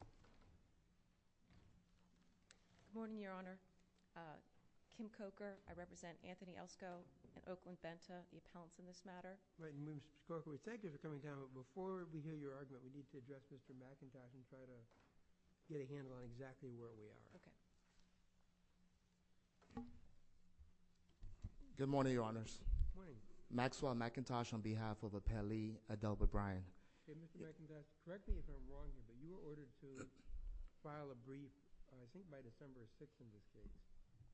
Good morning your honor, Kim Coker, I represent Anthony Elsko and Oakland Benta, the appellants in this matter. Right, and Ms. Coker, we thank you for coming down, but before we hear your argument, we need to address Mr. McIntosh and try to get a handle on exactly where we are. Okay. Good morning, your honors. Good morning. Maxwell McIntosh on behalf of Appellee Adelbert Bryan. Okay, Mr. McIntosh, correct me if I'm wrong, but you were ordered to file a brief, I think by December 6th in this case.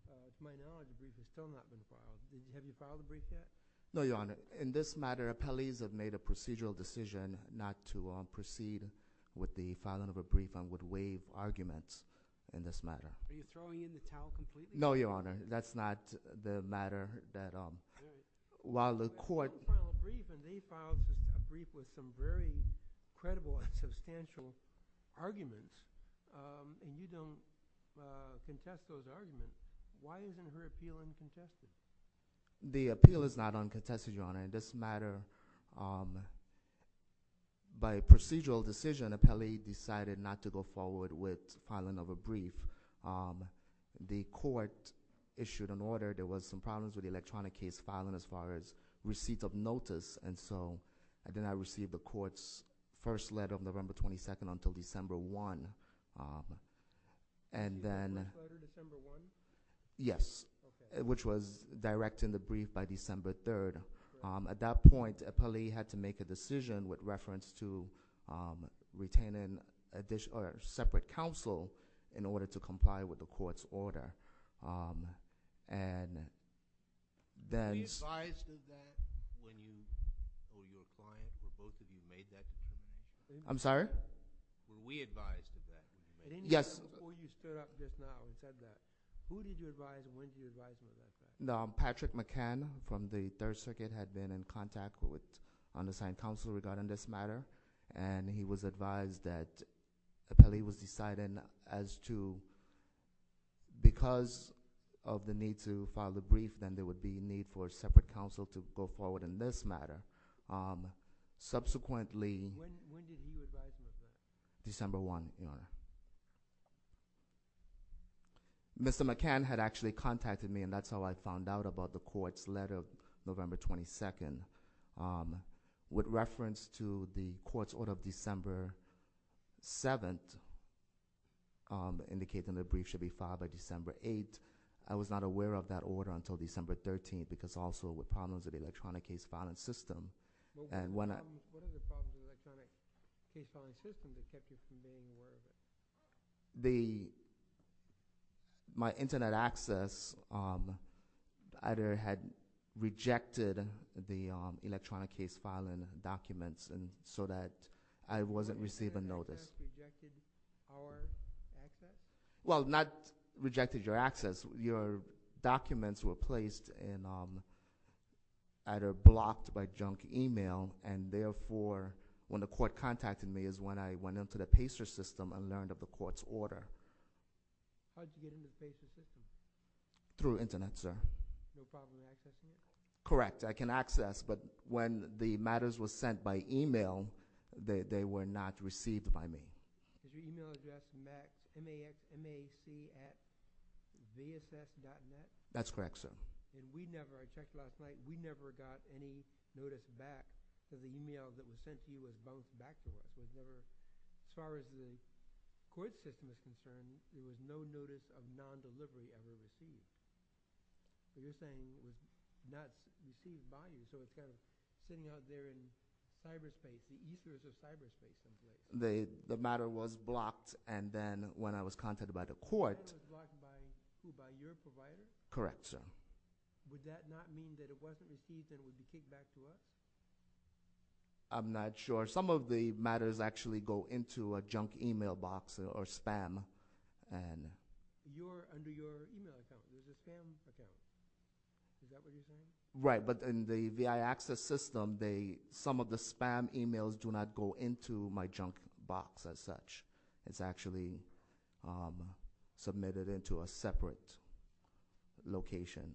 To my knowledge, the brief has still not been filed. Have you filed the brief yet? No, your honor. In this matter, appellees have made a procedural decision not to proceed with the filing of a brief and would waive arguments in this matter. Are you throwing in the towel completely? No, your honor. That's not the matter that while the court... has very credible and substantial arguments, and you don't contest those arguments, why isn't her appeal uncontested? The appeal is not uncontested, your honor. In this matter, by procedural decision, appellee decided not to go forward with filing of a brief. The court issued an order. There was some problems with the electronic case filing as far as receipt of notice, and so I did not receive the court's first letter of November 22nd until December 1. And then... Did you receive the first letter December 1? Yes. Okay. Which was direct in the brief by December 3rd. At that point, appellee had to make a decision with reference to retaining a separate counsel in order to comply with the court's order. And then... Were you advised of that? Were you a client? Were both of you made that decision? I'm sorry? Were we advised of that? Yes. Before you stir up this now and said that, who did you advise and when did you advise me of that? Patrick McCann from the Third Circuit had been in contact with Undersigned Counsel regarding this matter, and he was advised that appellee was deciding as to... Because of the need to file the brief, then there would be need for separate counsel to go forward in this matter. Subsequently... When did he advise you of that? December 1, Your Honor. Mr. McCann had actually contacted me, and that's how I found out about the court's letter of November 22, with reference to the court's order of December 7, indicating the brief should be filed by December 8. I was not aware of that order until December 13, because also with problems with the electronic case filing system. And when I... What are the problems with the electronic case filing system that kept you from being aware of it? The... My internet access either had rejected the electronic case filing documents, so that I wasn't receiving notice. Your internet access rejected our access? Well, not rejected your access. Your documents were placed in... Either blocked by junk email, and therefore, when the court contacted me is when I went into the PACER system and learned of the court's order. How did you get into the PACER system? Through internet, sir. No problem accessing it? Correct. I can access, but when the matters were sent by email, they were not received by me. Was your email address max... MAC at zss.net? That's correct, sir. And we never... I checked last night. We never got any notice back, so the email that was sent to you was bounced back to us. There was never... As far as the court system is concerned, there was no notice of non-delivery ever received. So you're saying it was not received by you, so it's kind of sitting out there in cyberspace. The ether is a cyberspace. The matter was blocked, and then when I was contacted by the court... The matter was blocked by who? By your provider? Correct, sir. Would that not mean that it wasn't received and it would be kicked back to us? I'm not sure. Some of the matters actually go into a junk email box or spam. Under your email account, was it spam? Okay. Is that what you're saying? Right, but in the VI Access system, some of the spam emails do not go into my junk box as such. It's actually submitted into a separate location.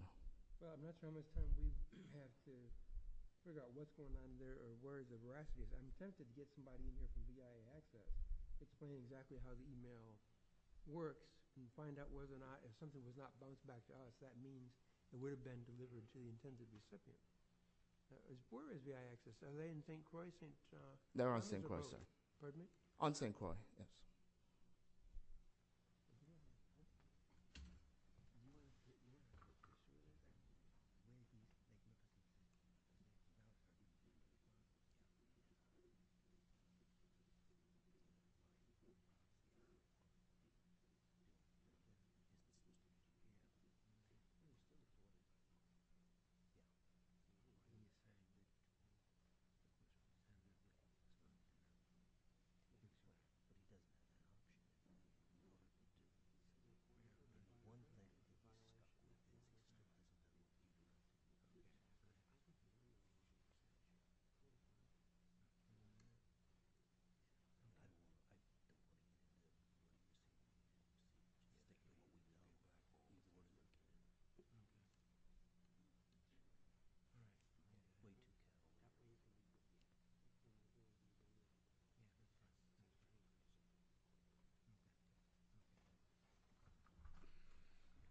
That's how much time we have to figure out what's going on there or where the rest of it is. I'm tempted to get somebody into the VI Access, explain exactly how the email works, and find out whether or not if something was not bounced back to us, that means it would have been delivered to you in terms of the circuit. As far as VI Access, are they in St. Croix? They're on St. Croix, sir. Pardon me? On St. Croix, yes. Okay. Okay. Okay. Okay. Okay. Okay.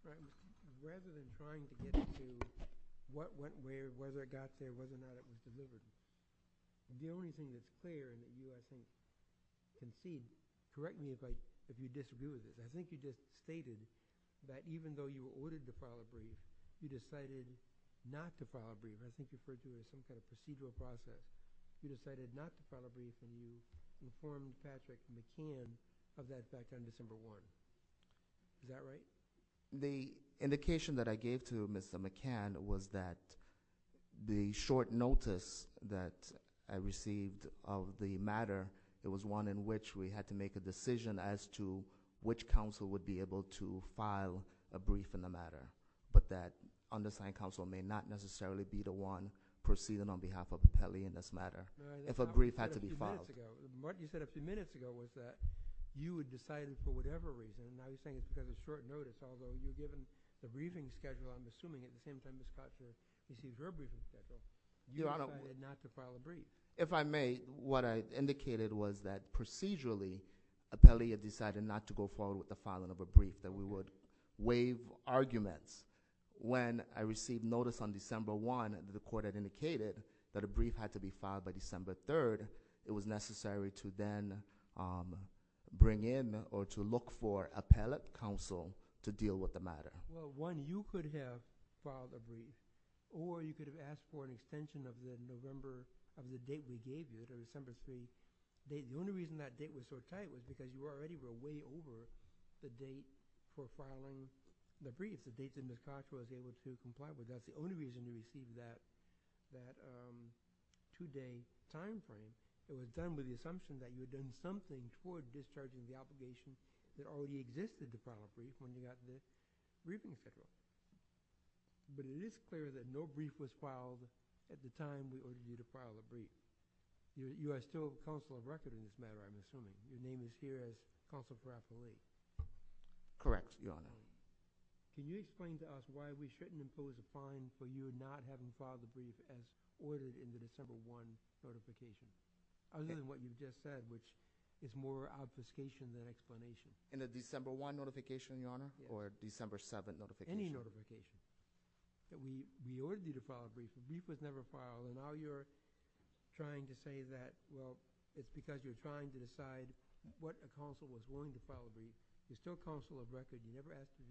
But rather than trying to get to what went where, whether it got there, whether or not it was submitted, the only thing that's clear and that you, I think, conceived, correct me if I if you disagree with it, I think you just stated that even though you were ordered to file a brief, you decided not to file a brief. I think you referred to it as some kind of procedural process. You decided not to file a brief and you informed Patrick McClellan of that back on December 1. Is that right? The indication that I gave to Mr. McCann was that the short notice that I received of the matter, it was one in which we had to make a decision as to which council would be able to file a brief in the matter, but that undersigned council may not necessarily be the one proceeding on behalf of Pele in this matter if a brief had to be filed. Martin, you said a few minutes ago was that you had decided for whatever reason, and I was saying it's because of short notice, although you were given the briefing schedule, I'm assuming, at the same time as Scott received her briefing schedule, you decided not to file a brief. If I may, what I indicated was that procedurally, Appellee had decided not to go forward with the filing of a brief, that we would waive arguments. When I received notice on December 1 that the court had indicated that a brief had to be filed by December 3, it was necessary to then bring in or to look for appellate counsel to deal with the matter. Well, one, you could have filed a brief, or you could have asked for an extension of the November of the date we gave you, the December 3 date. The only reason that date was so tight was because you already were way over the date for filing the brief, the date that Ms. Cox was able to two-day time frame. It was done with the assumption that you had done something towards discharging the obligation that already existed to file a brief when you got this briefing schedule. But it is clear that no brief was filed at the time we ordered you to file a brief. You are still counsel of record in this matter, I'm assuming. Your name is here as Counsel for Appellate. Correct, Your Honor. Can you explain to us why we shouldn't impose a fine for you not having filed a brief as ordered in the December 1 notification, other than what you just said, which is more obfuscation than explanation? In the December 1 notification, Your Honor, or December 7 notification? Any notification. We ordered you to file a brief. The brief was never filed, and now you're trying to say that, well, it's because you're trying to decide what a counsel was wanting to file a brief. You're still counsel of record. You never asked to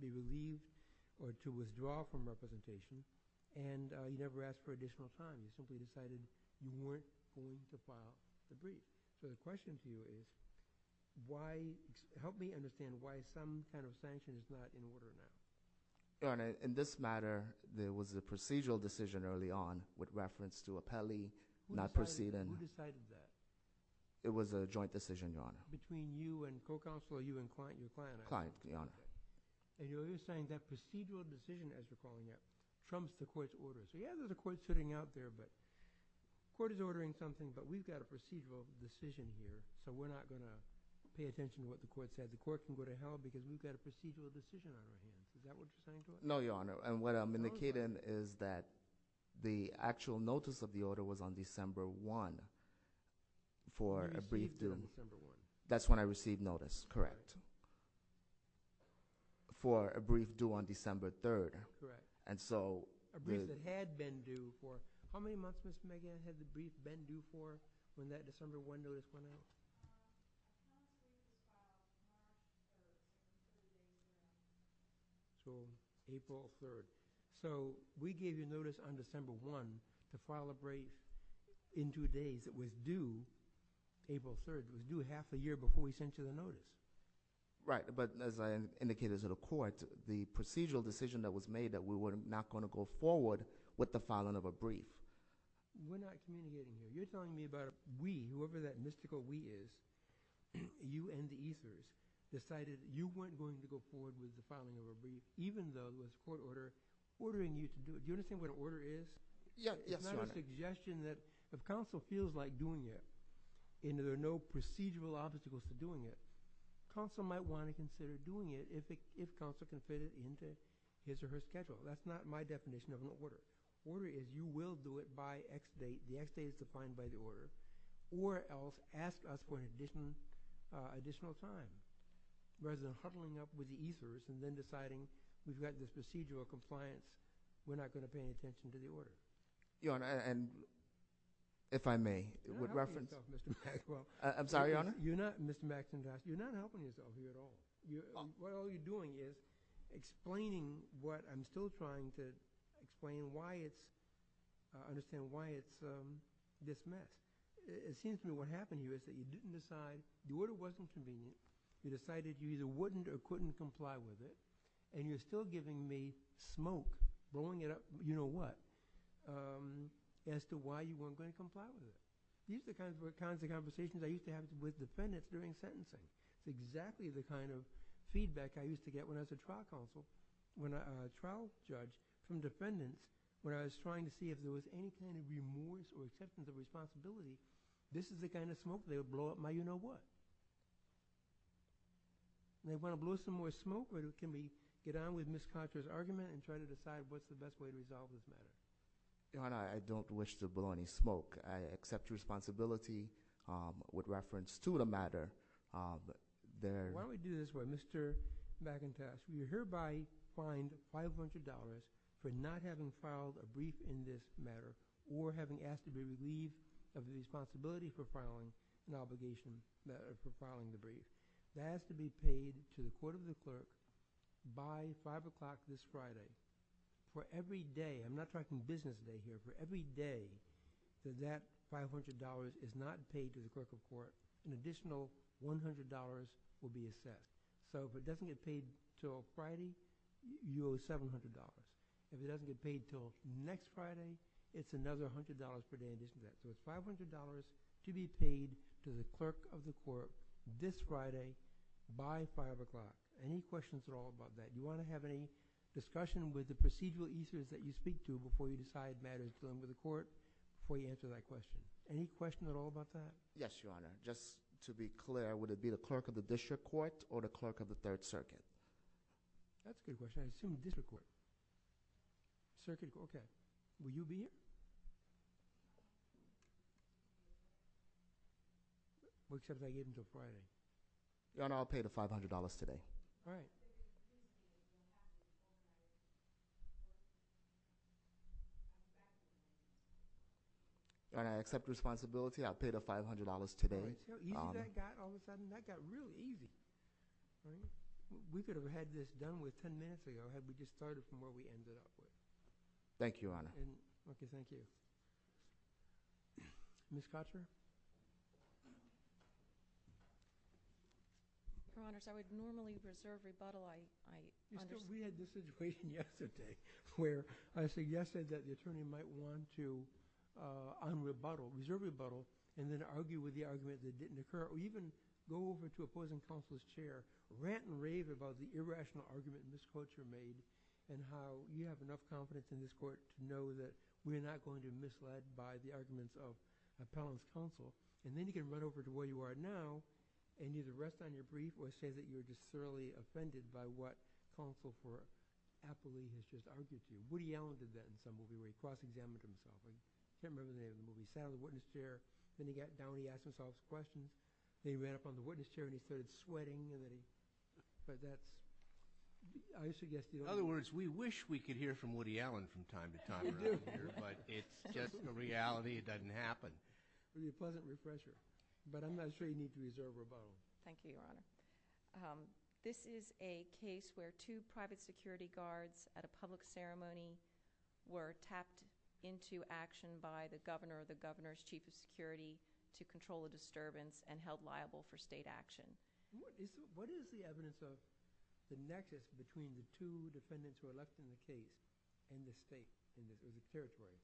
be released or to withdraw from representation, and you never asked for additional time. You simply decided you weren't going to file a brief. So the question to you is, why, help me understand why some kind of sanction is not in order now? Your Honor, in this matter, there was a procedural decision early on with reference to appellee not proceeding. Who decided that? It was a joint decision, Your Honor. Between you and co-counsel, or you and client, your client? Client, Your Honor. And you're saying that procedural decision, as you're calling it, trumps the court's order. So yeah, there's a court sitting out there, but court is ordering something, but we've got a procedural decision here, so we're not going to pay attention to what the court said. The court can go to hell because we've got a procedural decision on our hands. Is that what you're saying, Your Honor? No, Your Honor, and what I'm indicating is that the actual notice of the order was on December 1 for a brief due. That's when I received notice, correct? For a brief due on December 3rd. Correct. And so... A brief that had been due for how many months, Mr. McGann, had the brief been due for when that December 1 notice went out? So April 3rd. So we gave you notice on December 1 to file a brief in two days. It was due April 3rd. It was due half a year before we sent you the notice. Right, but as I indicated to the court, the procedural decision that was made that we were not going to go forward with the filing of a brief... We're not communicating here. You're telling me about we, whoever that mystical we is, you and the ethers, decided you weren't going to go forward with the filing of a brief, even though it was court order, ordering you to do it. Do you understand what an order is? Yes, Your Honor. It's not a suggestion that if counsel feels like doing it and there are no procedural obstacles to doing it, counsel might want to consider doing it if counsel can fit it into his or her schedule. That's not my definition of an order. Order is you will do it by X date, the X date is defined by the order, or else ask us for an additional time, rather than huddling up with the ethers and then deciding we've got this procedural compliance, we're not going to pay attention to the order. Your Honor, and if I may, with reference... You're not helping yourself, Mr. Maxwell. I'm sorry, Your Honor? You're not, Mr. Maxwell, you're not helping yourself here at all. What all you're doing is explaining what I'm still trying to explain why it's, understand why it's dismissed. It seems to me what happened here is that you didn't decide, the order wasn't convenient, you decided you either wouldn't or couldn't comply with it, and you're still giving me smoke, blowing it up, you know what, as to why you weren't going to comply with it. These are the kinds of conversations I used to have with defendants during sentencing, exactly the kind of feedback I used to get when I was a trial counsel, when a trial judge, from defendants, when I was trying to see if there was any kind of remorse or acceptance of responsibility, this is the kind of smoke they would blow up my you know what. And they want to blow some more smoke, or can we get on with Ms. Contra's argument and try to decide what's the best way to resolve this matter? Your Honor, I don't wish to blow any smoke. I accept the responsibility with reference to the matter, but there... Why don't we do this way, Mr. McIntosh, you're hereby fined $500 for not having filed a brief in this matter, or having asked to be relieved of the responsibility for filing an obligation for filing the brief. That has to be paid to the court of the clerk by five o'clock this Friday. For every day, I'm not talking business day here, for every day that that $500 is not paid to the clerk of court, an additional $100 will be assessed. So if it doesn't get paid till Friday, you owe $700. If it doesn't get paid till next Friday, it's another $100 for damages. So it's $500 to be paid to the clerk of the court this Friday by five o'clock. Any questions at all about that? You want to have any discussion with the procedural users that you speak to before you decide matters are returned to the court, before you answer that question? Any question at all about that? Yes, Your Honor. Just to be clear, would it be the clerk of the district court, or the clerk of the third circuit? That's a good question. I assume district court. Circuit court, okay. Will you be here? What's that I get until Friday? Your Honor, I'll pay the $500 today. All right. Your Honor, I accept responsibility. I'll pay the $500 today. Easy as that got. All of a sudden, that got really easy. We could have had this done with 10 minutes ago had we just started from where we ended up with. Thank you, Your Honor. Okay, thank you. Ms. Kotcher? Your Honor, so I would normally reserve rebuttal. I understand. We had this situation yesterday where I suggested that the attorney might want to reserve rebuttal and then argue with the argument that didn't occur, or even go over to opposing counsel's chair, rant and rave about the irrational argument Ms. Kotcher made, and how we have enough confidence in this court to know that we're not going to be misled by the arguments of appellant's counsel. Then you can run over to where you are now and either rest on your brief or say that you're just thoroughly offended by what counsel for appellee has just argued to you. Woody Allen did that in some movie where he cross-examined himself. I can't remember the name of the movie. He sat on the witness chair. Then he got down. He asked himself a question. Then he ran up on the witness chair and he started sweating. But that's, I suggest you don't. In other words, we wish we could hear from Woody Allen from time to time around here, but it's just a reality. It doesn't happen. It would be a pleasant refresher, but I'm not sure you need to reserve rebuttal. Thank you, Your Honor. This is a case where two private security guards at a public ceremony were tapped into action by the governor or the governor's chief of security to control a disturbance and held liable for state action. What is the evidence of the nexus between the two defendants who are left in the state and the state in the territory?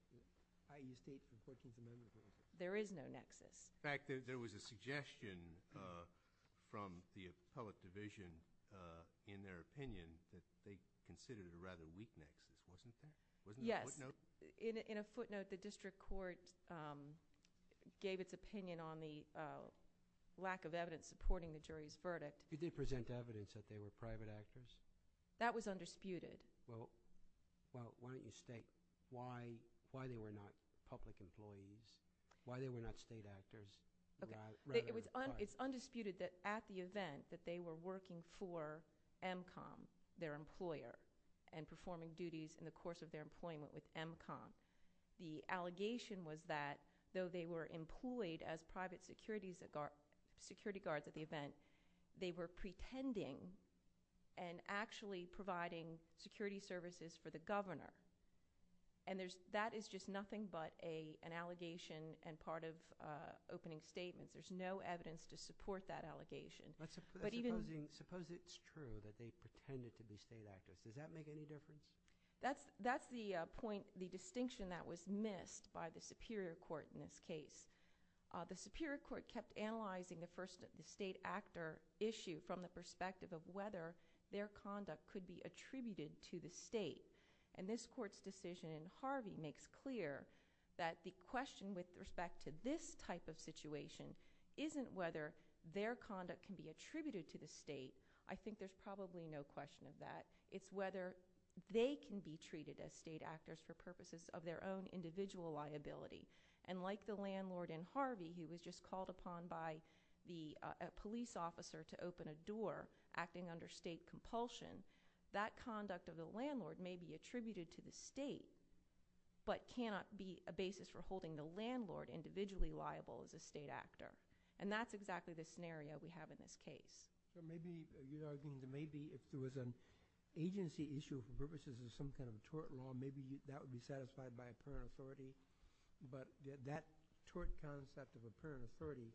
I.e. states and states and communities? There is no nexus. In fact, there was a suggestion from the appellate division in their opinion that they considered it a rather weak nexus, wasn't there? Yes. In a footnote, the district court gave its opinion on the lack of evidence supporting the jury's verdict. You did present evidence that they were private actors? That was undisputed. Well, why don't you state why they were not public employees, why they were not state actors? It's undisputed that at the event that they were working for MCOM, their employer, and performing duties in the course of their employment with MCOM, the allegation was that though they were employed as private security guards at the event, they were pretending and actually providing security services for the governor. And that is just nothing but an allegation and part of opening statements. There's no evidence to support that allegation. But suppose it's true that they pretended to be state actors. Does that make any difference? That's the distinction that was missed by the superior court in this case. The superior court kept analyzing the state actor issue from the perspective of whether their conduct could be attributed to the state. And this court's decision in Harvey makes clear that the question with respect to this type of situation isn't whether their conduct can be attributed to the state. I think there's probably no question of that. It's whether they can be treated as state actors for purposes of their own individual liability. And like the landlord in Harvey who was just called upon by the police officer to open a door acting under state compulsion, that conduct of the landlord may be attributed to the state but cannot be a basis for holding the landlord individually liable as a state actor. And that's exactly the scenario we have in this case. But maybe you're arguing that maybe if there was an agency issue for purposes of some kind of tort law, maybe that would be satisfied by a parent authority. But that tort concept of a parent authority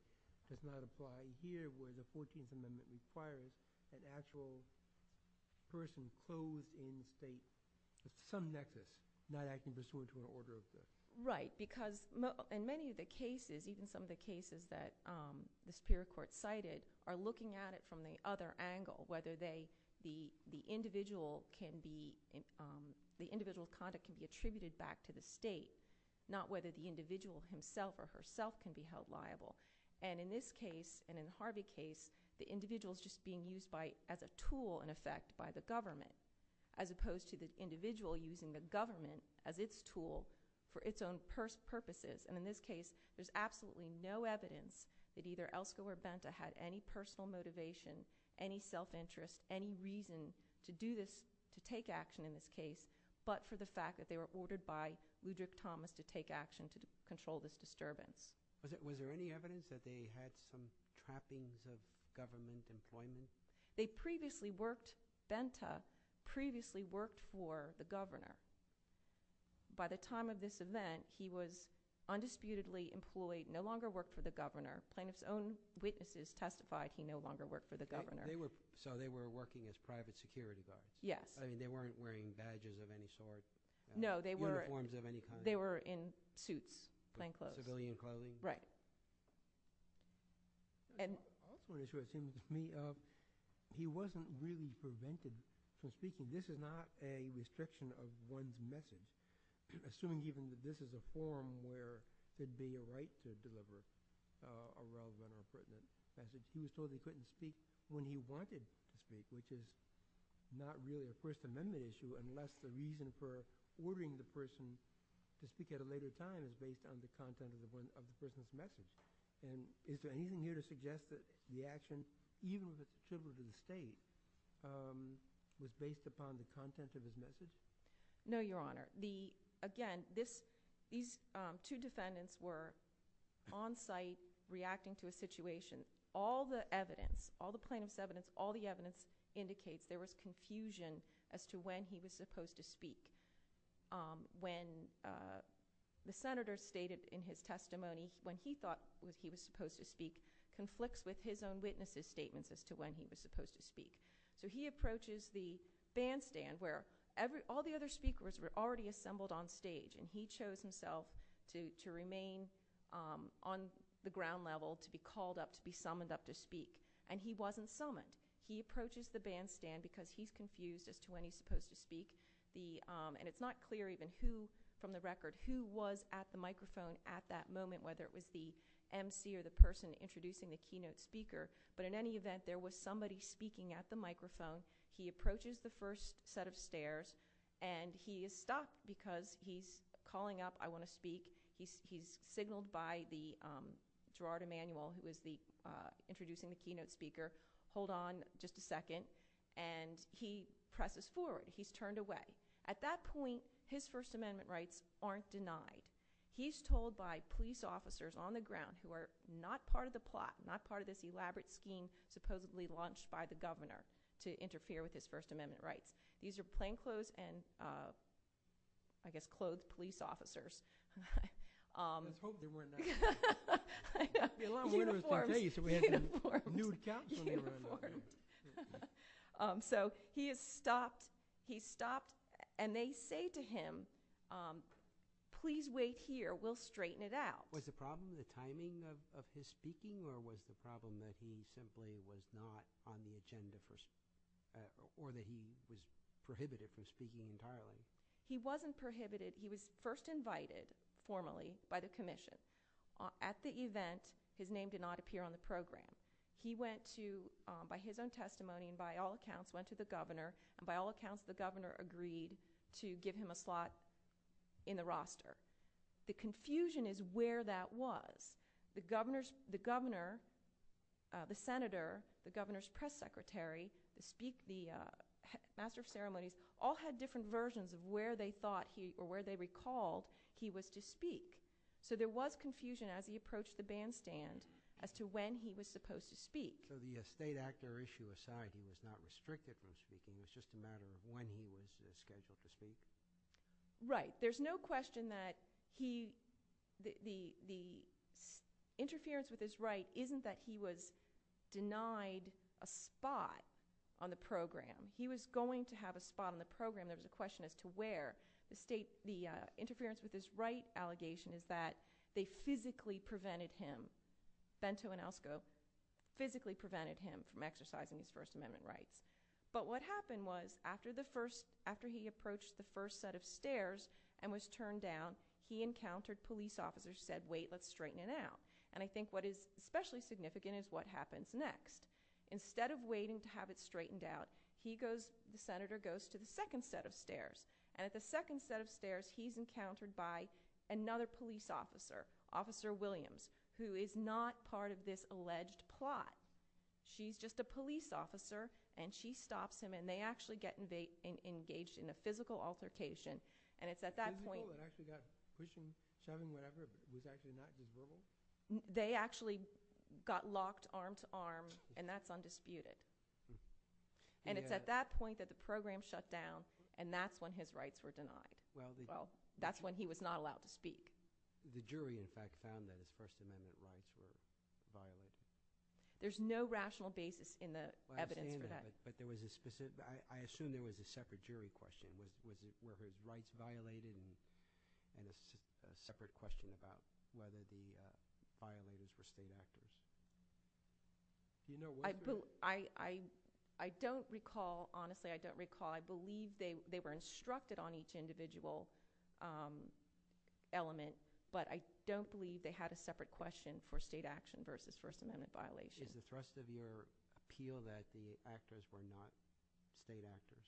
does not apply here where the 14th Amendment requires an actual person closed in the state with some nexus not acting pursuant to an order of state. Right, because in many of the cases, even some of the cases that the Superior Court cited, are looking at it from the other angle, whether the individual conduct can be attributed back to the state, not whether the individual himself or herself can be held liable. And in this case and in the Harvey case, the individual is just being used as a tool in effect by the government as opposed to the individual using the government as its tool for its own purposes. And in this case, there's absolutely no evidence that either Elske or Benta had any personal motivation, any self-interest, any reason to do this, to take action in this case, but for the fact that they were ordered by Ludwig Thomas to take action to control this disturbance. Was there any evidence that they had some trappings of government employment? They previously worked – Benta previously worked for the governor. By the time of this event, he was undisputedly employed, no longer worked for the governor. Plaintiff's own witnesses testified he no longer worked for the governor. So they were working as private security guards? Yes. I mean, they weren't wearing badges of any sort? No, they were – Uniforms of any kind? They were in suits, plainclothes. Civilian clothing? Right. I have one issue that seems to me. He wasn't really prevented from speaking. This is not a restriction of one's message, assuming even that this is a forum where there'd be a right to deliver a well-run or a pertinent message. He certainly couldn't speak when he wanted to speak, which is not really a First Amendment issue unless the reason for ordering the person to speak at a later time is based on the content of the person's message. And is there anything here to suggest that the action, even if it's a civilian state, was based upon the content of his message? No, Your Honor. Again, these two defendants were on site reacting to a situation. All the evidence, all the plaintiff's evidence, all the evidence indicates there was confusion as to when he was supposed to speak. When the senator stated in his testimony when he thought he was supposed to speak conflicts with his own witness' statements as to when he was supposed to speak. So he approaches the bandstand where all the other speakers were already assembled on stage, and he chose himself to remain on the ground level, to be called up, to be summoned up to speak. And he wasn't summoned. He approaches the bandstand because he's confused as to when he's supposed to speak. And it's not clear even who, from the record, who was at the microphone at that moment, whether it was the emcee or the person introducing the keynote speaker. But in any event, there was somebody speaking at the microphone. He approaches the first set of stairs, and he is stopped because he's calling up, I want to speak. He's signaled by Gerard Emanuel, who was introducing the keynote speaker, hold on just a second. And he presses forward. He's turned away. At that point, his First Amendment rights aren't denied. He's told by police officers on the ground who are not part of the plot, not part of this elaborate scheme supposedly launched by the governor to interfere with his First Amendment rights. These are plainclothes and, I guess, clothed police officers. I was hoping they weren't. I know. Uniforms. The alarm went off that day. You said we had a nude capsule. Uniforms. So he is stopped. He's stopped. And they say to him, please wait here. We'll straighten it out. Was the problem the timing of his speaking or was the problem that he simply was not on the agenda or that he was prohibited from speaking entirely? He wasn't prohibited. He was first invited formally by the commission. At the event, his name did not appear on the program. He went to, by his own testimony and by all accounts, went to the governor. And by all accounts, the governor agreed to give him a slot in the roster. The confusion is where that was. The governor, the senator, the governor's press secretary, the master of ceremonies, all had different versions of where they thought or where they recalled he was to speak. So there was confusion as he approached the bandstand as to when he was supposed to speak. So the state actor issue aside, he was not restricted from speaking. It was just a matter of when he was scheduled to speak? Right. There's no question that the interference with his right isn't that he was denied a spot on the program. He was going to have a spot on the program. There was a question as to where. The interference with his right allegation is that they physically prevented him, Bento and Elsko, physically prevented him from exercising his First Amendment rights. But what happened was, after he approached the first set of stairs and was turned down, he encountered police officers who said, wait, let's straighten it out. And I think what is especially significant is what happens next. Instead of waiting to have it straightened out, the senator goes to the second set of stairs. And at the second set of stairs, he's encountered by another police officer, Officer Williams, who is not part of this alleged plot. She's just a police officer. And she stops him. And they actually get engaged in a physical altercation. And it's at that point – Physical? And actually that pushing, shoving, whatever was actually not deserving? They actually got locked arm to arm, and that's undisputed. And it's at that point that the program shut down, and that's when his rights were denied. Well, that's when he was not allowed to speak. The jury, in fact, found that his First Amendment rights were violated. There's no rational basis in the evidence for that. But there was a specific – I assume there was a separate jury question. Were his rights violated? And a separate question about whether the violators were state actors. I don't recall. Honestly, I don't recall. I believe they were instructed on each individual element. But I don't believe they had a separate question for state action versus First Amendment violation. Is the thrust of your appeal that the actors were not state actors?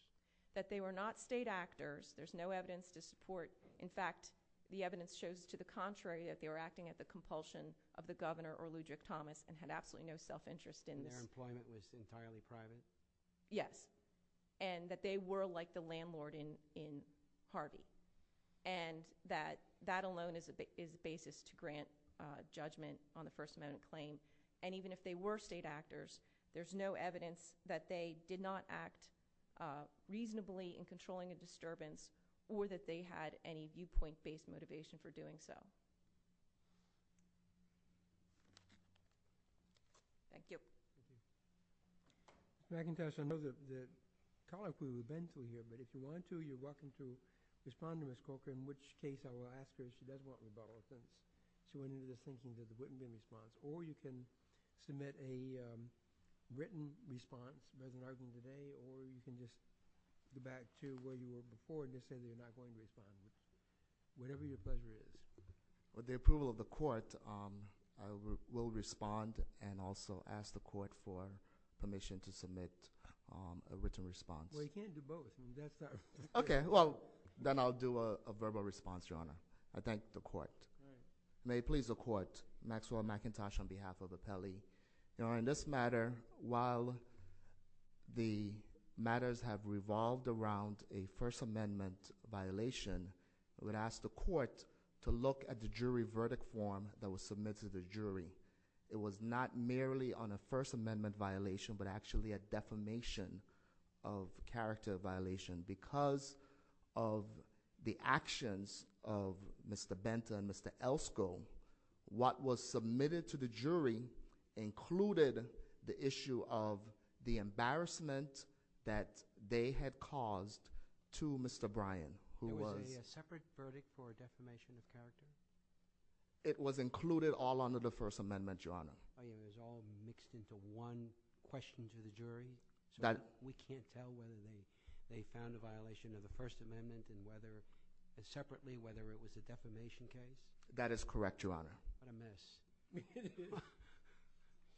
That they were not state actors. There's no evidence to support – in fact, the evidence shows to the contrary, that they were acting at the compulsion of the Governor or Ludric Thomas and had absolutely no self-interest in this. And their employment was entirely private? Yes. And that they were like the landlord in Harvey. And that that alone is the basis to grant judgment on the First Amendment claim. And even if they were state actors, there's no evidence that they did not act reasonably in controlling a disturbance or that they had any viewpoint-based motivation for doing so. Thank you. Ms. McIntosh, I know that – I'd call on you to respond to Ms. Corker, in which case I will ask her if she does want rebuttal. So when you're thinking of a written response, or you can submit a written response as an argument today, or you can just go back to where you were before and just say you're not going to respond. Whatever your pleasure is. With the approval of the Court, I will respond and also ask the Court for permission to submit a written response. Well, you can't do both. Okay. Well, then I'll do a verbal response, Your Honor. I thank the Court. May it please the Court, Maxwell McIntosh on behalf of the Pele. Your Honor, in this matter, while the matters have revolved around a First Amendment violation, I would ask the Court to look at the jury verdict form that was submitted to the jury. It was not merely on a First Amendment violation, but actually a defamation of character violation because of the actions of Mr. Benta and Mr. Elsko. What was submitted to the jury included the issue of the embarrassment that they had caused to Mr. Bryan. Was there a separate verdict for defamation of character? It was included all under the First Amendment, Your Honor. It was all mixed into one question to the jury? We can't tell whether they found a violation of the First Amendment and separately whether it was a defamation case? That is correct, Your Honor. What a mess.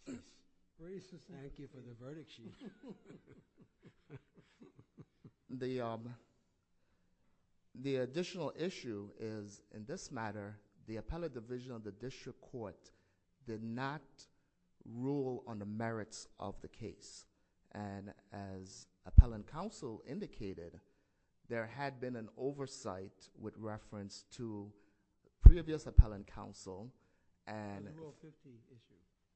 Thank you for the verdict sheet. The additional issue is, in this matter, the appellate division of the district court did not rule on the merits of the case. As appellant counsel indicated, there had been an oversight with reference to previous appellant counsel. Under Rule 50.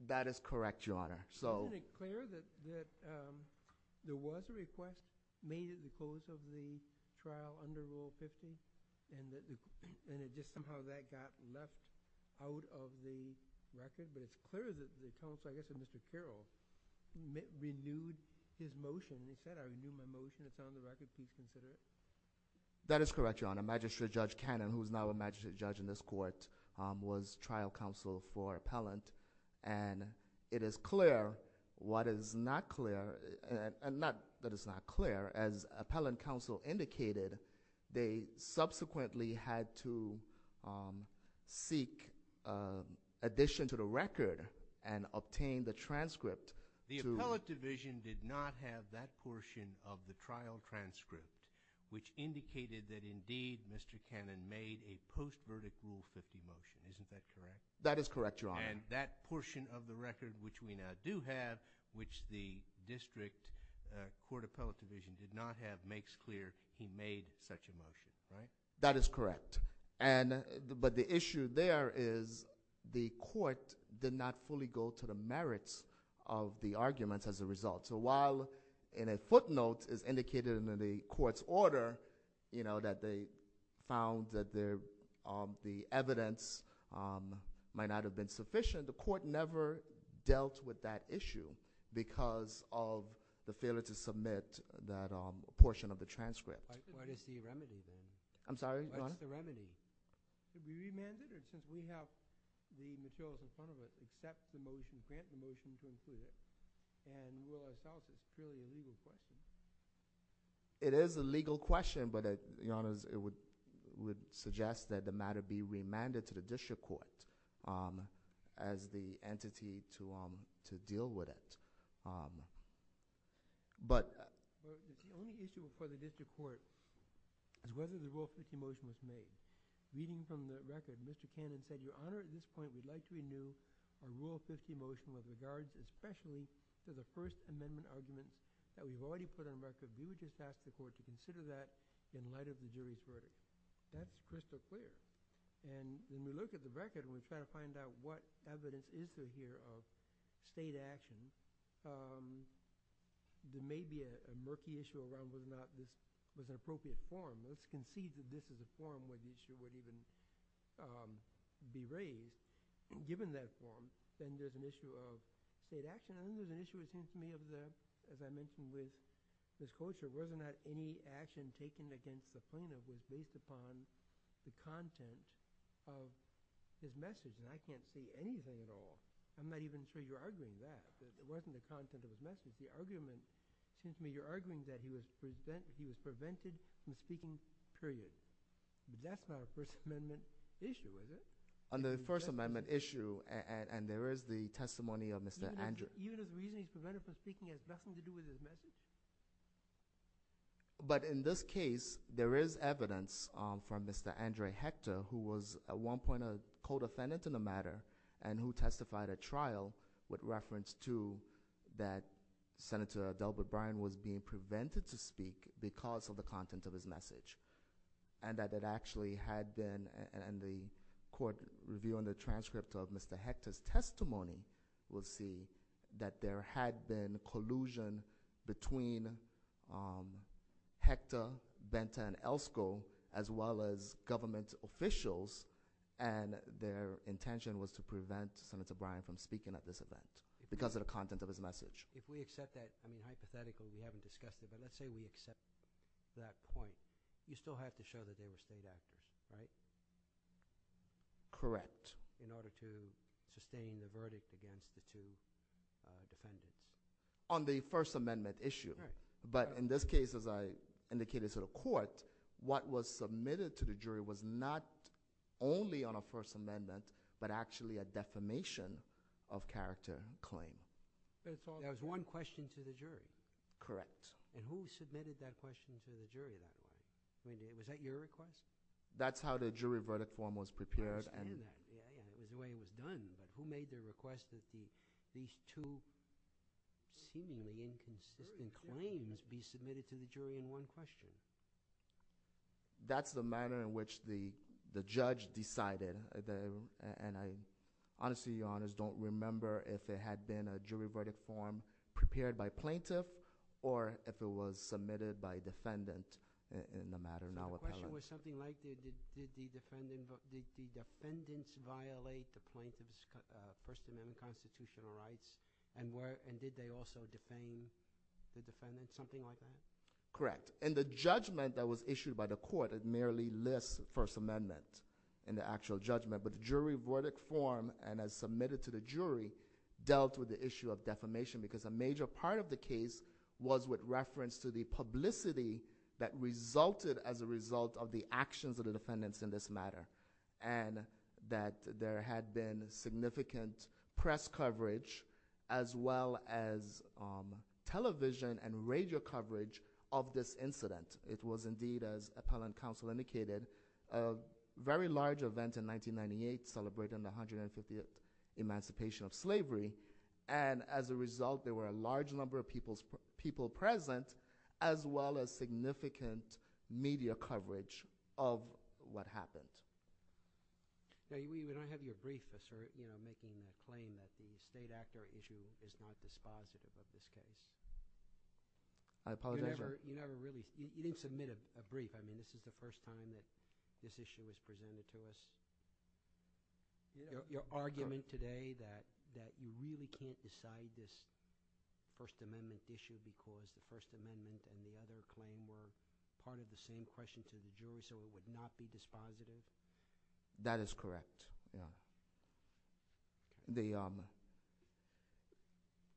That is correct, Your Honor. Is it clear that there was a request made in the course of the trial under Rule 50 and somehow that got left out of the record? But it's clear that Mr. Carroll renewed his motion. He said, I renewed my motion. It's on the record. Please consider it. That is correct, Your Honor. Magistrate Judge Cannon, who is now a magistrate judge in this court, was trial counsel for appellant. And it is clear. What is not clear, and not that it's not clear, as appellant counsel indicated, they subsequently had to seek addition to the record and obtain the transcript. The appellate division did not have that portion of the trial transcript, which indicated that, indeed, Mr. Cannon made a post-verdict Rule 50 motion. Isn't that correct? That is correct, Your Honor. And that portion of the record, which we now do have, which the district court appellate division did not have, makes clear he made such a motion, right? That is correct. But the issue there is the court did not fully go to the merits of the arguments as a result. So while in a footnote it's indicated in the court's order that they found that the evidence might not have been sufficient, the court never dealt with that issue because of the failure to submit that portion of the transcript. What is the remedy, then? I'm sorry, Your Honor? What's the remedy? Would you remand it? Or since we have the material in front of us, accept the motion, grant the motion to include it, and rule ourselves it's purely a legal question? It is a legal question, but, Your Honor, it would suggest that the matter be remanded to the district court as the entity to deal with it. The only issue for the district court is whether the Rule 50 motion was made. Reading from the record, Mr. Cannon said, Your Honor, at this point, we'd like to renew our Rule 50 motion with regards especially to the First Amendment argument that we've already put on record. We would just ask the court to consider that in light of the jury's verdict. That's crystal clear. When we look at the record and we try to find out what evidence is there here of state action, there may be a murky issue around whether or not this was an appropriate form. It's conceived that this is a form where the issue would even be raised. Given that form, then there's an issue of state action. I think there's an issue, it seems to me, of the, as I mentioned with Ms. Kocher, whether or not any action taken against the plaintiff is based upon the content of his message. I can't see anything at all. I'm not even sure you're arguing that. It wasn't the content of his message. It seems to me you're arguing that he was prevented from speaking, period. That's not a First Amendment issue, is it? On the First Amendment issue, and there is the testimony of Mr. Andrews. Even if he was prevented from speaking, it has nothing to do with his message? But in this case, there is evidence from Mr. Andre Hector, who was at one point a co-defendant in the matter and who testified at trial with reference to that Senator Adelbert Bryan was being prevented to speak because of the content of his message, and that it actually had been, and the court review and the transcript of Mr. Hector's testimony will see that there had been collusion between Hector, Benta, and Elskoe as well as government officials, and their intention was to prevent Senator Bryan from speaking at this event because of the content of his message. If we accept that, I mean, hypothetically, we haven't discussed it, but let's say we accept that point, you still have to show that they were state actors, right? Correct. In order to sustain the verdict against the two defendants. On the First Amendment issue. But in this case, as I indicated to the court, what was submitted to the jury was not only on a First Amendment, but actually a defamation of character claim. There was one question to the jury. Correct. And who submitted that question to the jury that day? Was that your request? That's how the jury verdict form was prepared. I understand that. It was the way it was done, but who made the request that these two seemingly inconsistent claims be submitted to the jury in one question? That's the manner in which the judge decided. And I honestly, Your Honor, don't remember if it had been a jury verdict form prepared by plaintiff or if it was submitted by defendant in the matter. The question was something like, did the defendants violate the plaintiff's First Amendment constitutional rights and did they also defame the defendant? Something like that? Correct. And the judgment that was issued by the court merely lists First Amendment in the actual judgment. But the jury verdict form, and as submitted to the jury, dealt with the issue of defamation because a major part of the case was with reference to the publicity that resulted as a result of the actions of the defendants in this matter and that there had been significant press coverage as well as television and radio coverage of this incident. It was indeed, as appellant counsel indicated, a very large event in 1998 celebrating the 150th emancipation of slavery. And as a result, there were a large number of people present as well as significant media coverage of what happened. We don't have your brief, sir, making a claim that the state actor issue is not dispositive of this case. I apologize, Your Honor. You didn't submit a brief. I mean, this is the first time that this issue was presented to us. Your argument today that you really can't decide this First Amendment issue because the First Amendment and the other claim were part of the same question to the jury so it would not be dispositive? That is correct, Your Honor.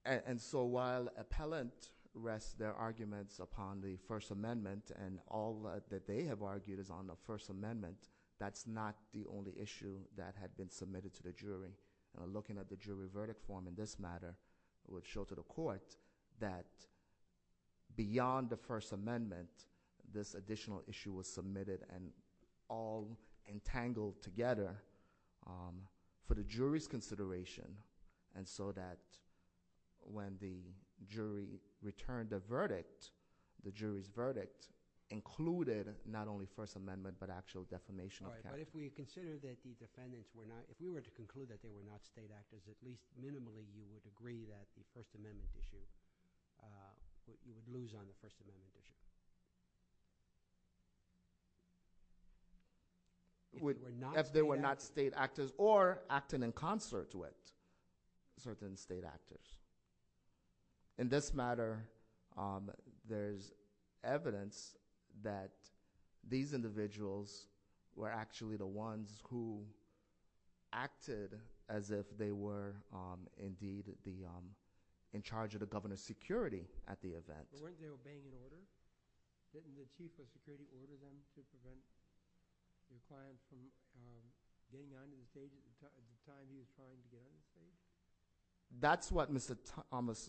And so while appellant rests their arguments upon the First Amendment and all that they have argued is on the First Amendment, that's not the only issue that had been submitted to the jury. Looking at the jury verdict form in this matter would show to the court that beyond the First Amendment, this additional issue was submitted and all entangled together for the jury's consideration and so that when the jury returned the verdict, the jury's verdict included not only First Amendment but actual defamation. All right, but if we consider that the defendants were not, if we were to conclude that they were not state actors, at least minimally, you would agree that the First Amendment issue, that you would lose on the First Amendment issue? If they were not state actors or acting in concert with certain state actors. In this matter, there's evidence that these individuals were actually the ones who acted as if they were indeed in charge of the governor's security at the event. But weren't they obeying an order? Didn't the chief of security order them to prevent compliance from day nine of the time he was trying to go into state? That's what Mr.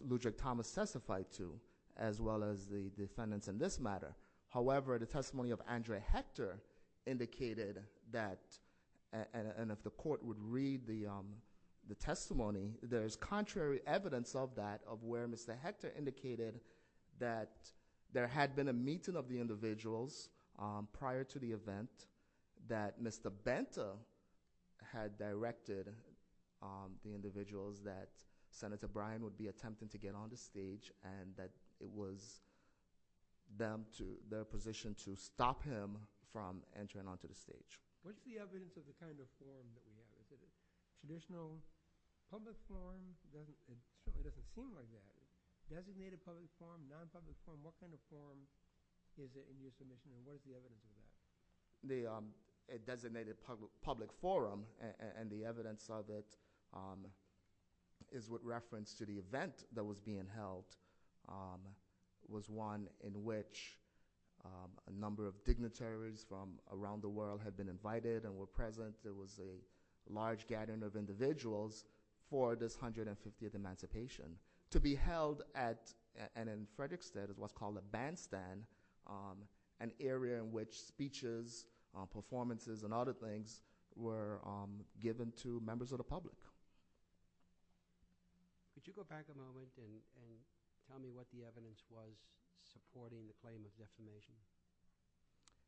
Ludric Thomas testified to as well as the defendants in this matter. However, the testimony of Andre Hector indicated that, and if the court would read the testimony, there's contrary evidence of that of where Mr. Hector indicated that there had been a meeting of the individuals prior to the event, that Mr. Banta had directed the individuals that Senator Bryan would be attempting to get on the stage and that it was their position to stop him from entering onto the stage. The designated public forum and the evidence of it is with reference to the event that was being held was one in which a number of dignitaries from around the world had been invited and were present. There was a large gathering of individuals for this 150th Emancipation. To be held at, and as Frederick said, it was called a bandstand, an area in which speeches, performances, and other things were given to members of the public. Could you go back a moment and tell me what the evidence was supporting the claim of defamation?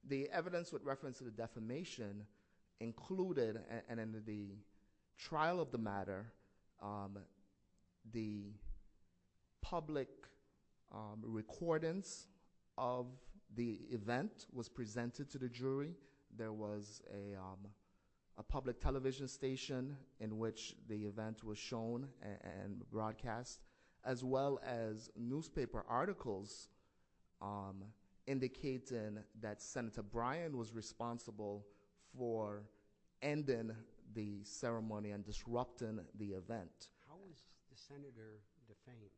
The evidence with reference to the defamation included, and in the trial of the matter, the public recordings of the event was presented to the jury. There was a public television station in which the event was shown and broadcast, as well as newspaper articles indicating that Senator Bryan was responsible for ending the ceremony and disrupting the event. How was the Senator defamed?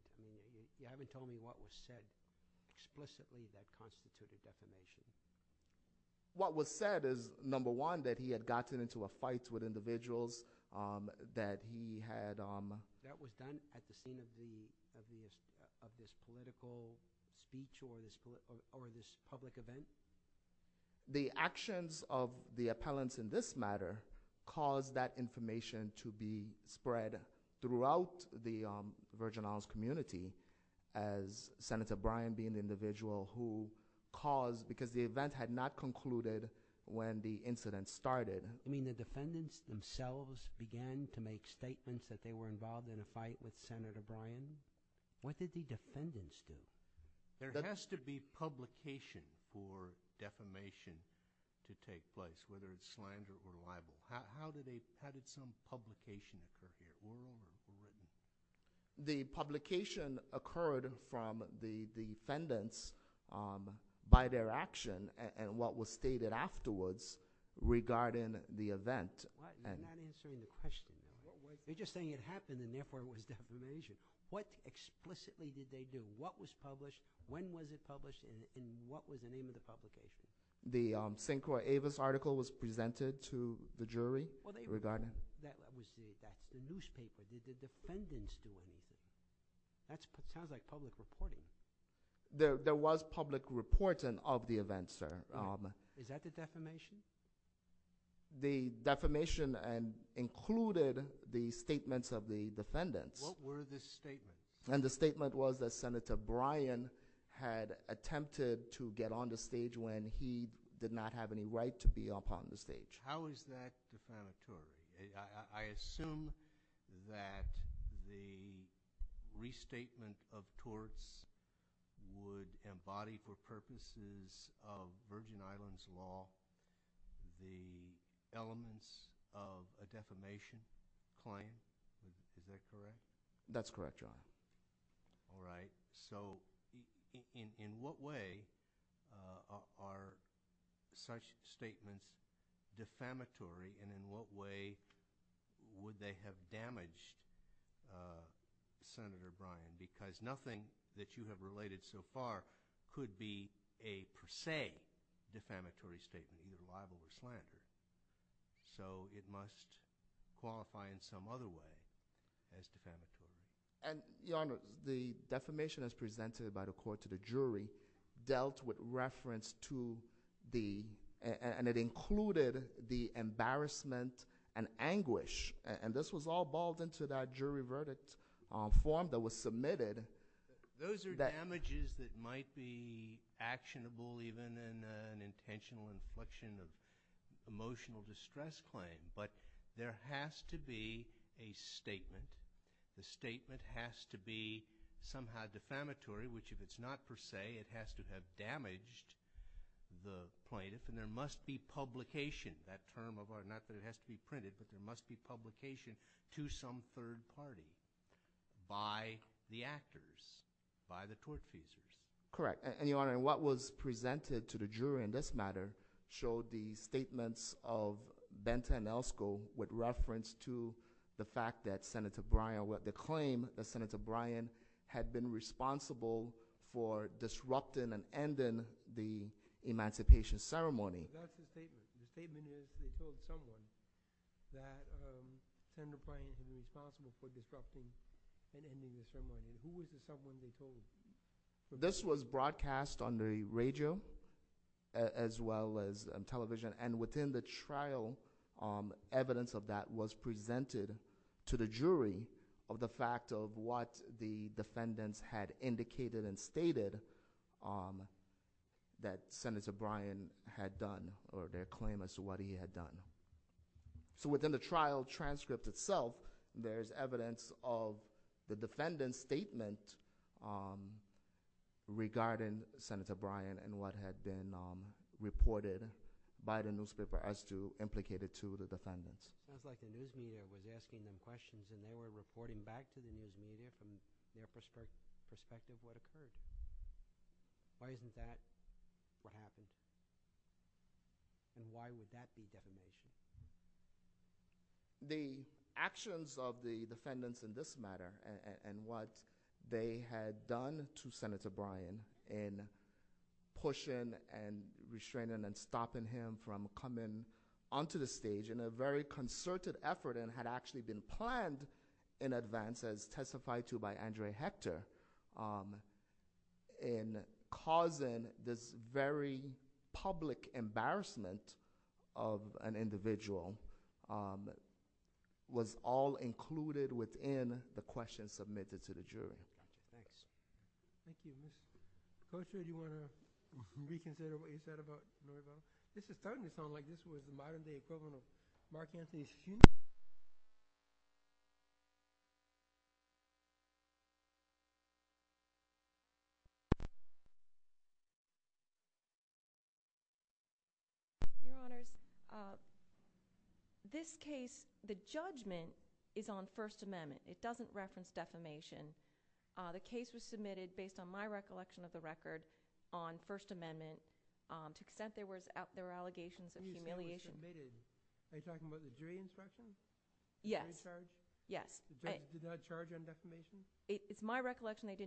You haven't told me what was said explicitly that constituted defamation. What was said is, number one, that he had gotten into a fight with individuals, that he had... That was done at the scene of this political speech or this public event? The actions of the appellants in this matter caused that information to be spread throughout the Virgin Isles community, as Senator Bryan being the individual who caused, because the event had not concluded when the incident started. You mean the defendants themselves began to make statements that they were involved in a fight with Senator Bryan? What did the defendants do? There has to be publication for defamation to take place, whether it's slander or libel. How did some publication occur here? Were all of them written? The publication occurred from the defendants by their action and what was stated afterwards regarding the event. You're not answering the question. You're just saying it happened and therefore it was defamation. What explicitly did they do? What was published, when was it published, and what was the name of the publication? The Sinclair Avis article was presented to the jury regarding... That was the newspaper. Did the defendants do anything? That sounds like public reporting. There was public reporting of the event, sir. Is that the defamation? The defamation included the statements of the defendants. What were the statements? The statement was that Senator Bryan had attempted to get on the stage when he did not have any right to be up on the stage. How is that defamatory? I assume that the restatement of torts would embody for purposes of Virgin Islands law the elements of a defamation claim. Is that correct? That's correct, Your Honor. All right. So in what way are such statements defamatory and in what way would they have damaged Senator Bryan? Because nothing that you have related so far could be a per se defamatory statement, either liable or slanderous. So it must qualify in some other way as defamatory. Your Honor, the defamation as presented by the court to the jury dealt with reference to the... and anguish. And this was all balled into that jury verdict form that was submitted. Those are damages that might be actionable even in an intentional inflection of emotional distress claim. But there has to be a statement. The statement has to be somehow defamatory, which if it's not per se, it has to have damaged the plaintiff. And there must be publication. Not that it has to be printed, but there must be publication to some third party by the actors, by the tort users. Correct. And, Your Honor, what was presented to the jury in this matter showed the statements of Benta and Elsko with reference to the fact that Senator Bryan, the claim that Senator Bryan had been responsible for disrupting and ending the emancipation ceremony. That's the statement. The statement is he told someone that Senator Bryan had been responsible for disrupting and ending the ceremony. Who was the someone they told? This was broadcast on the radio as well as television. of what the defendants had indicated and stated that Senator Bryan had done, or their claim as to what he had done. So within the trial transcript itself, there's evidence of the defendant's statement regarding Senator Bryan and what had been reported by the newspaper as to implicated to the defendants. It sounds like the news media was asking them questions and they were reporting back to the news media from their perspective what occurred. Why isn't that what happened? And why would that be defamation? The actions of the defendants in this matter and what they had done to Senator Bryan in pushing and restraining and stopping him from coming onto the stage in a very concerted effort and had actually been planned in advance as testified to by Andre Hector in causing this very public embarrassment of an individual was all included within the questions submitted to the jury. Thank you. Ms. Posta, do you want to reconsider what you said? This is starting to sound like this was the modern-day equivalent of Mark Anthey's human... Your Honors, this case, the judgment is on First Amendment. It doesn't reference defamation. The case was submitted, based on my recollection of the record, on First Amendment. To the extent there were allegations of humiliation... You said it was submitted. Are you talking about the jury inspection? Yes. Yes. The judge did not charge on defamation? It's my recollection that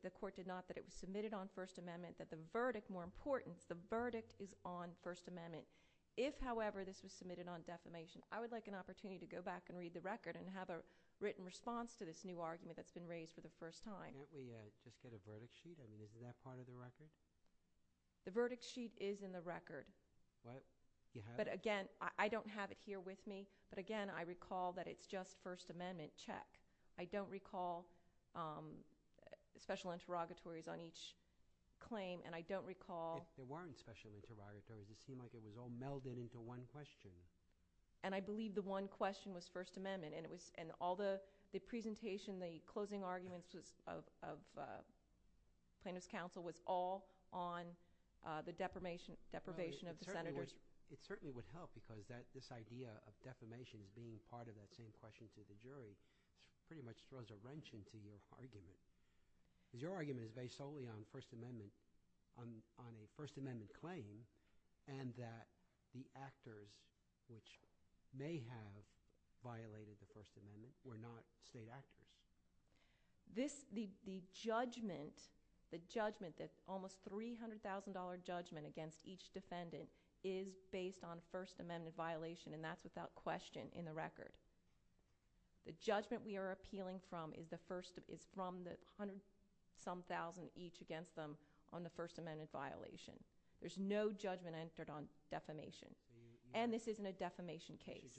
the court did not, that it was submitted on First Amendment, that the verdict, more important, the verdict is on First Amendment. I would like an opportunity to go back and read the record and have a written response to this new argument that's been raised for the first time. Can't we just get a verdict sheet? I mean, is that part of the record? The verdict sheet is in the record. What? You have it? But, again, I don't have it here with me, but, again, I recall that it's just First Amendment check. I don't recall special interrogatories on each claim, and I don't recall... There weren't special interrogatories. It seemed like it was all melded into one question. And I believe the one question was First Amendment, and all the presentation, the closing arguments of plaintiff's counsel was all on the deprivation of the senators. It certainly would help, because this idea of defamation being part of that same question for the jury pretty much throws a wrench into your argument, because your argument is based solely on First Amendment, on a First Amendment claim, and that the actors which may have violated the First Amendment were not state actors. The judgment, the judgment that's almost $300,000 judgment against each defendant is based on First Amendment violation, and that's without question in the record. The judgment we are appealing from is from the hundred-some thousand each against them on the First Amendment violation. There's no judgment entered on defamation, and this isn't a defamation case.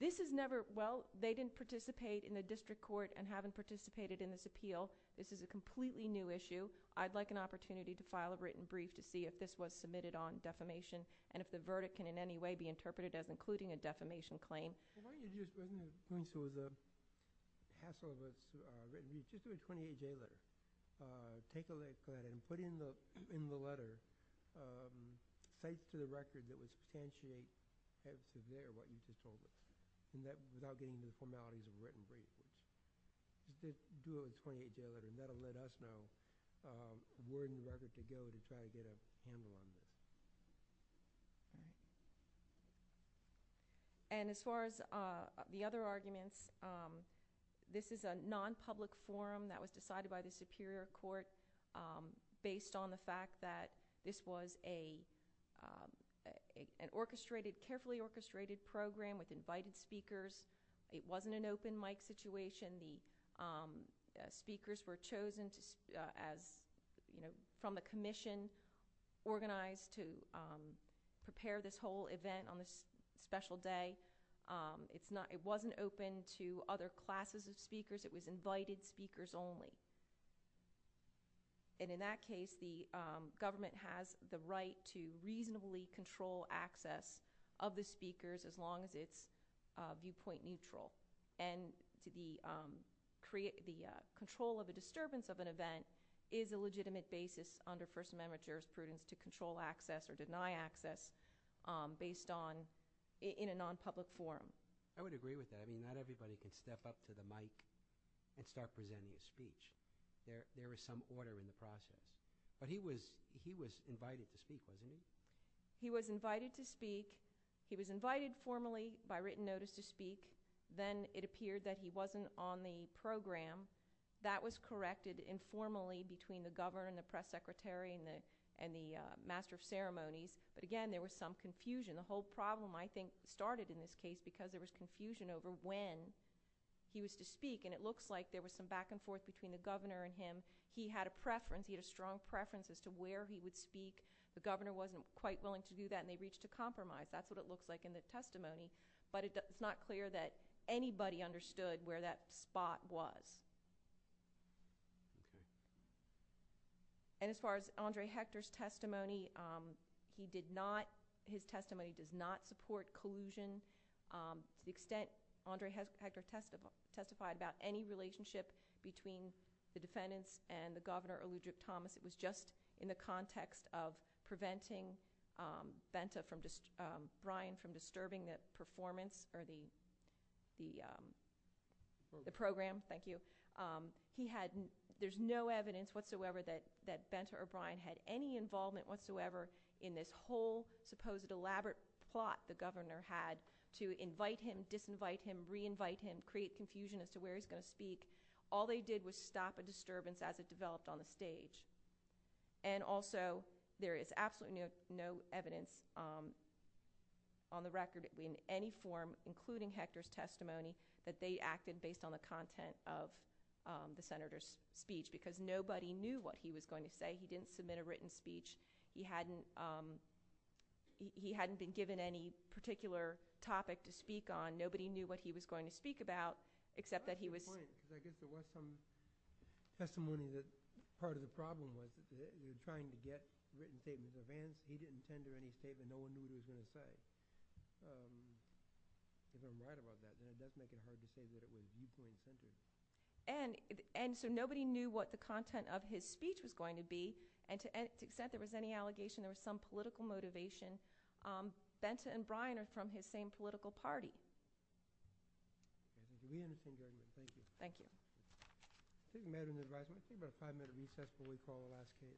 This is never... Well, they didn't participate in the district court and haven't participated in this appeal. This is a completely new issue. I'd like an opportunity to file a written brief to see if this was submitted on defamation and if the verdict can in any way be interpreted as including a defamation claim. Take a look at it and put it in the letter thanks to the record that would substantiate as to where what you just told us, and that without getting into the formalities of a written brief. Just do a 20-day audit, and that'll let us know where you'd like it to go to try to get a handle on this. And as far as the other arguments, this is a non-public forum that was decided by the Superior Court based on the fact that this was an orchestrated, carefully orchestrated program with invited speakers. It wasn't an open mic situation. The speakers were chosen as, you know, from the commission organized to prepare this whole event on this special day. It wasn't open to other classes of speakers. It was invited speakers only. And in that case, the government has the right to reasonably control access of the speakers as long as it's viewpoint neutral. And the control of the disturbance of an event is a legitimate basis under First Amendment jurisprudence to control access or deny access based on... in a non-public forum. I would agree with that. I mean, not everybody can step up to the mic and start presenting a speech. There is some order in the process. But he was invited to speak, wasn't he? He was invited to speak. He was invited formally by written notice to speak. Then it appeared that he wasn't on the program. That was corrected informally between the governor and the press secretary and the master of ceremonies. But again, there was some confusion. The whole problem, I think, started in this case because there was confusion over when he was to speak. And it looks like there was some back and forth between the governor and him. He had a preference. He had a strong preference as to where he would speak. The governor wasn't quite willing to do that, and they reached a compromise. That's what it looks like in the testimony. But it's not clear that anybody understood where that spot was. And as far as Andre Hector's testimony, he did not... To the extent Andre Hector testified about any relationship between the defendants and the governor or Ludwig Thomas, it was just in the context of preventing Benta from... Brian from disturbing the performance or the program. Thank you. There's no evidence whatsoever that Benta or Brian had any involvement whatsoever in this whole supposed elaborate plot that the governor had to invite him, disinvite him, re-invite him, create confusion as to where he's going to speak. All they did was stop a disturbance as it developed on the stage. And also, there is absolutely no evidence on the record in any form, including Hector's testimony, that they acted based on the content of the senator's speech because nobody knew what he was going to say. He didn't submit a written speech. He hadn't been given any particular topic to speak on. Nobody knew what he was going to speak about, except that he was... And so nobody knew what the content of his speech was going to be. And to the extent there was any allegation there was some political motivation, Benta and Brian are from his same political party. Thank you. Thank you. Thank you. Thank you. Thank you. Thank you. Thank you. Thank you. Thank you.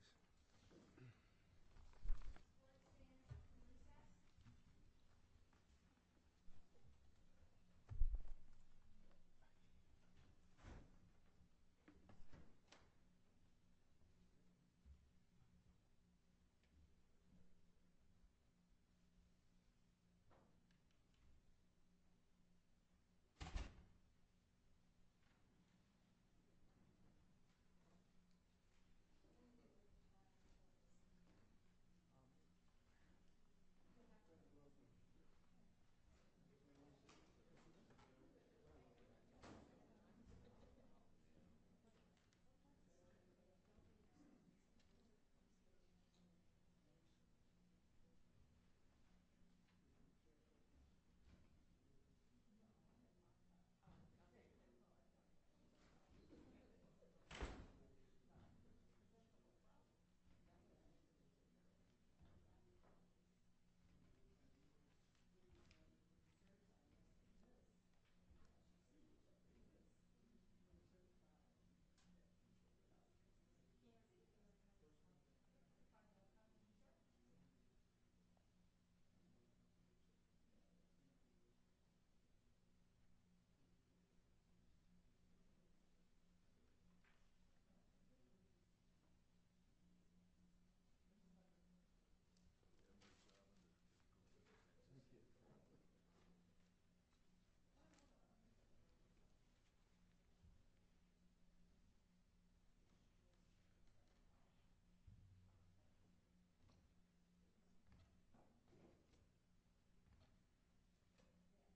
Thank you. Thank you.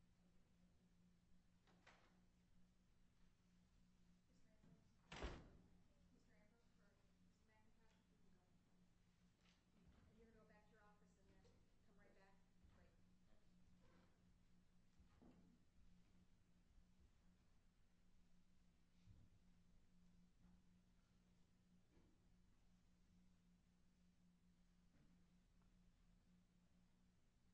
Thank you. Thank you. Thank you. Thank you. Thank you. Thank you.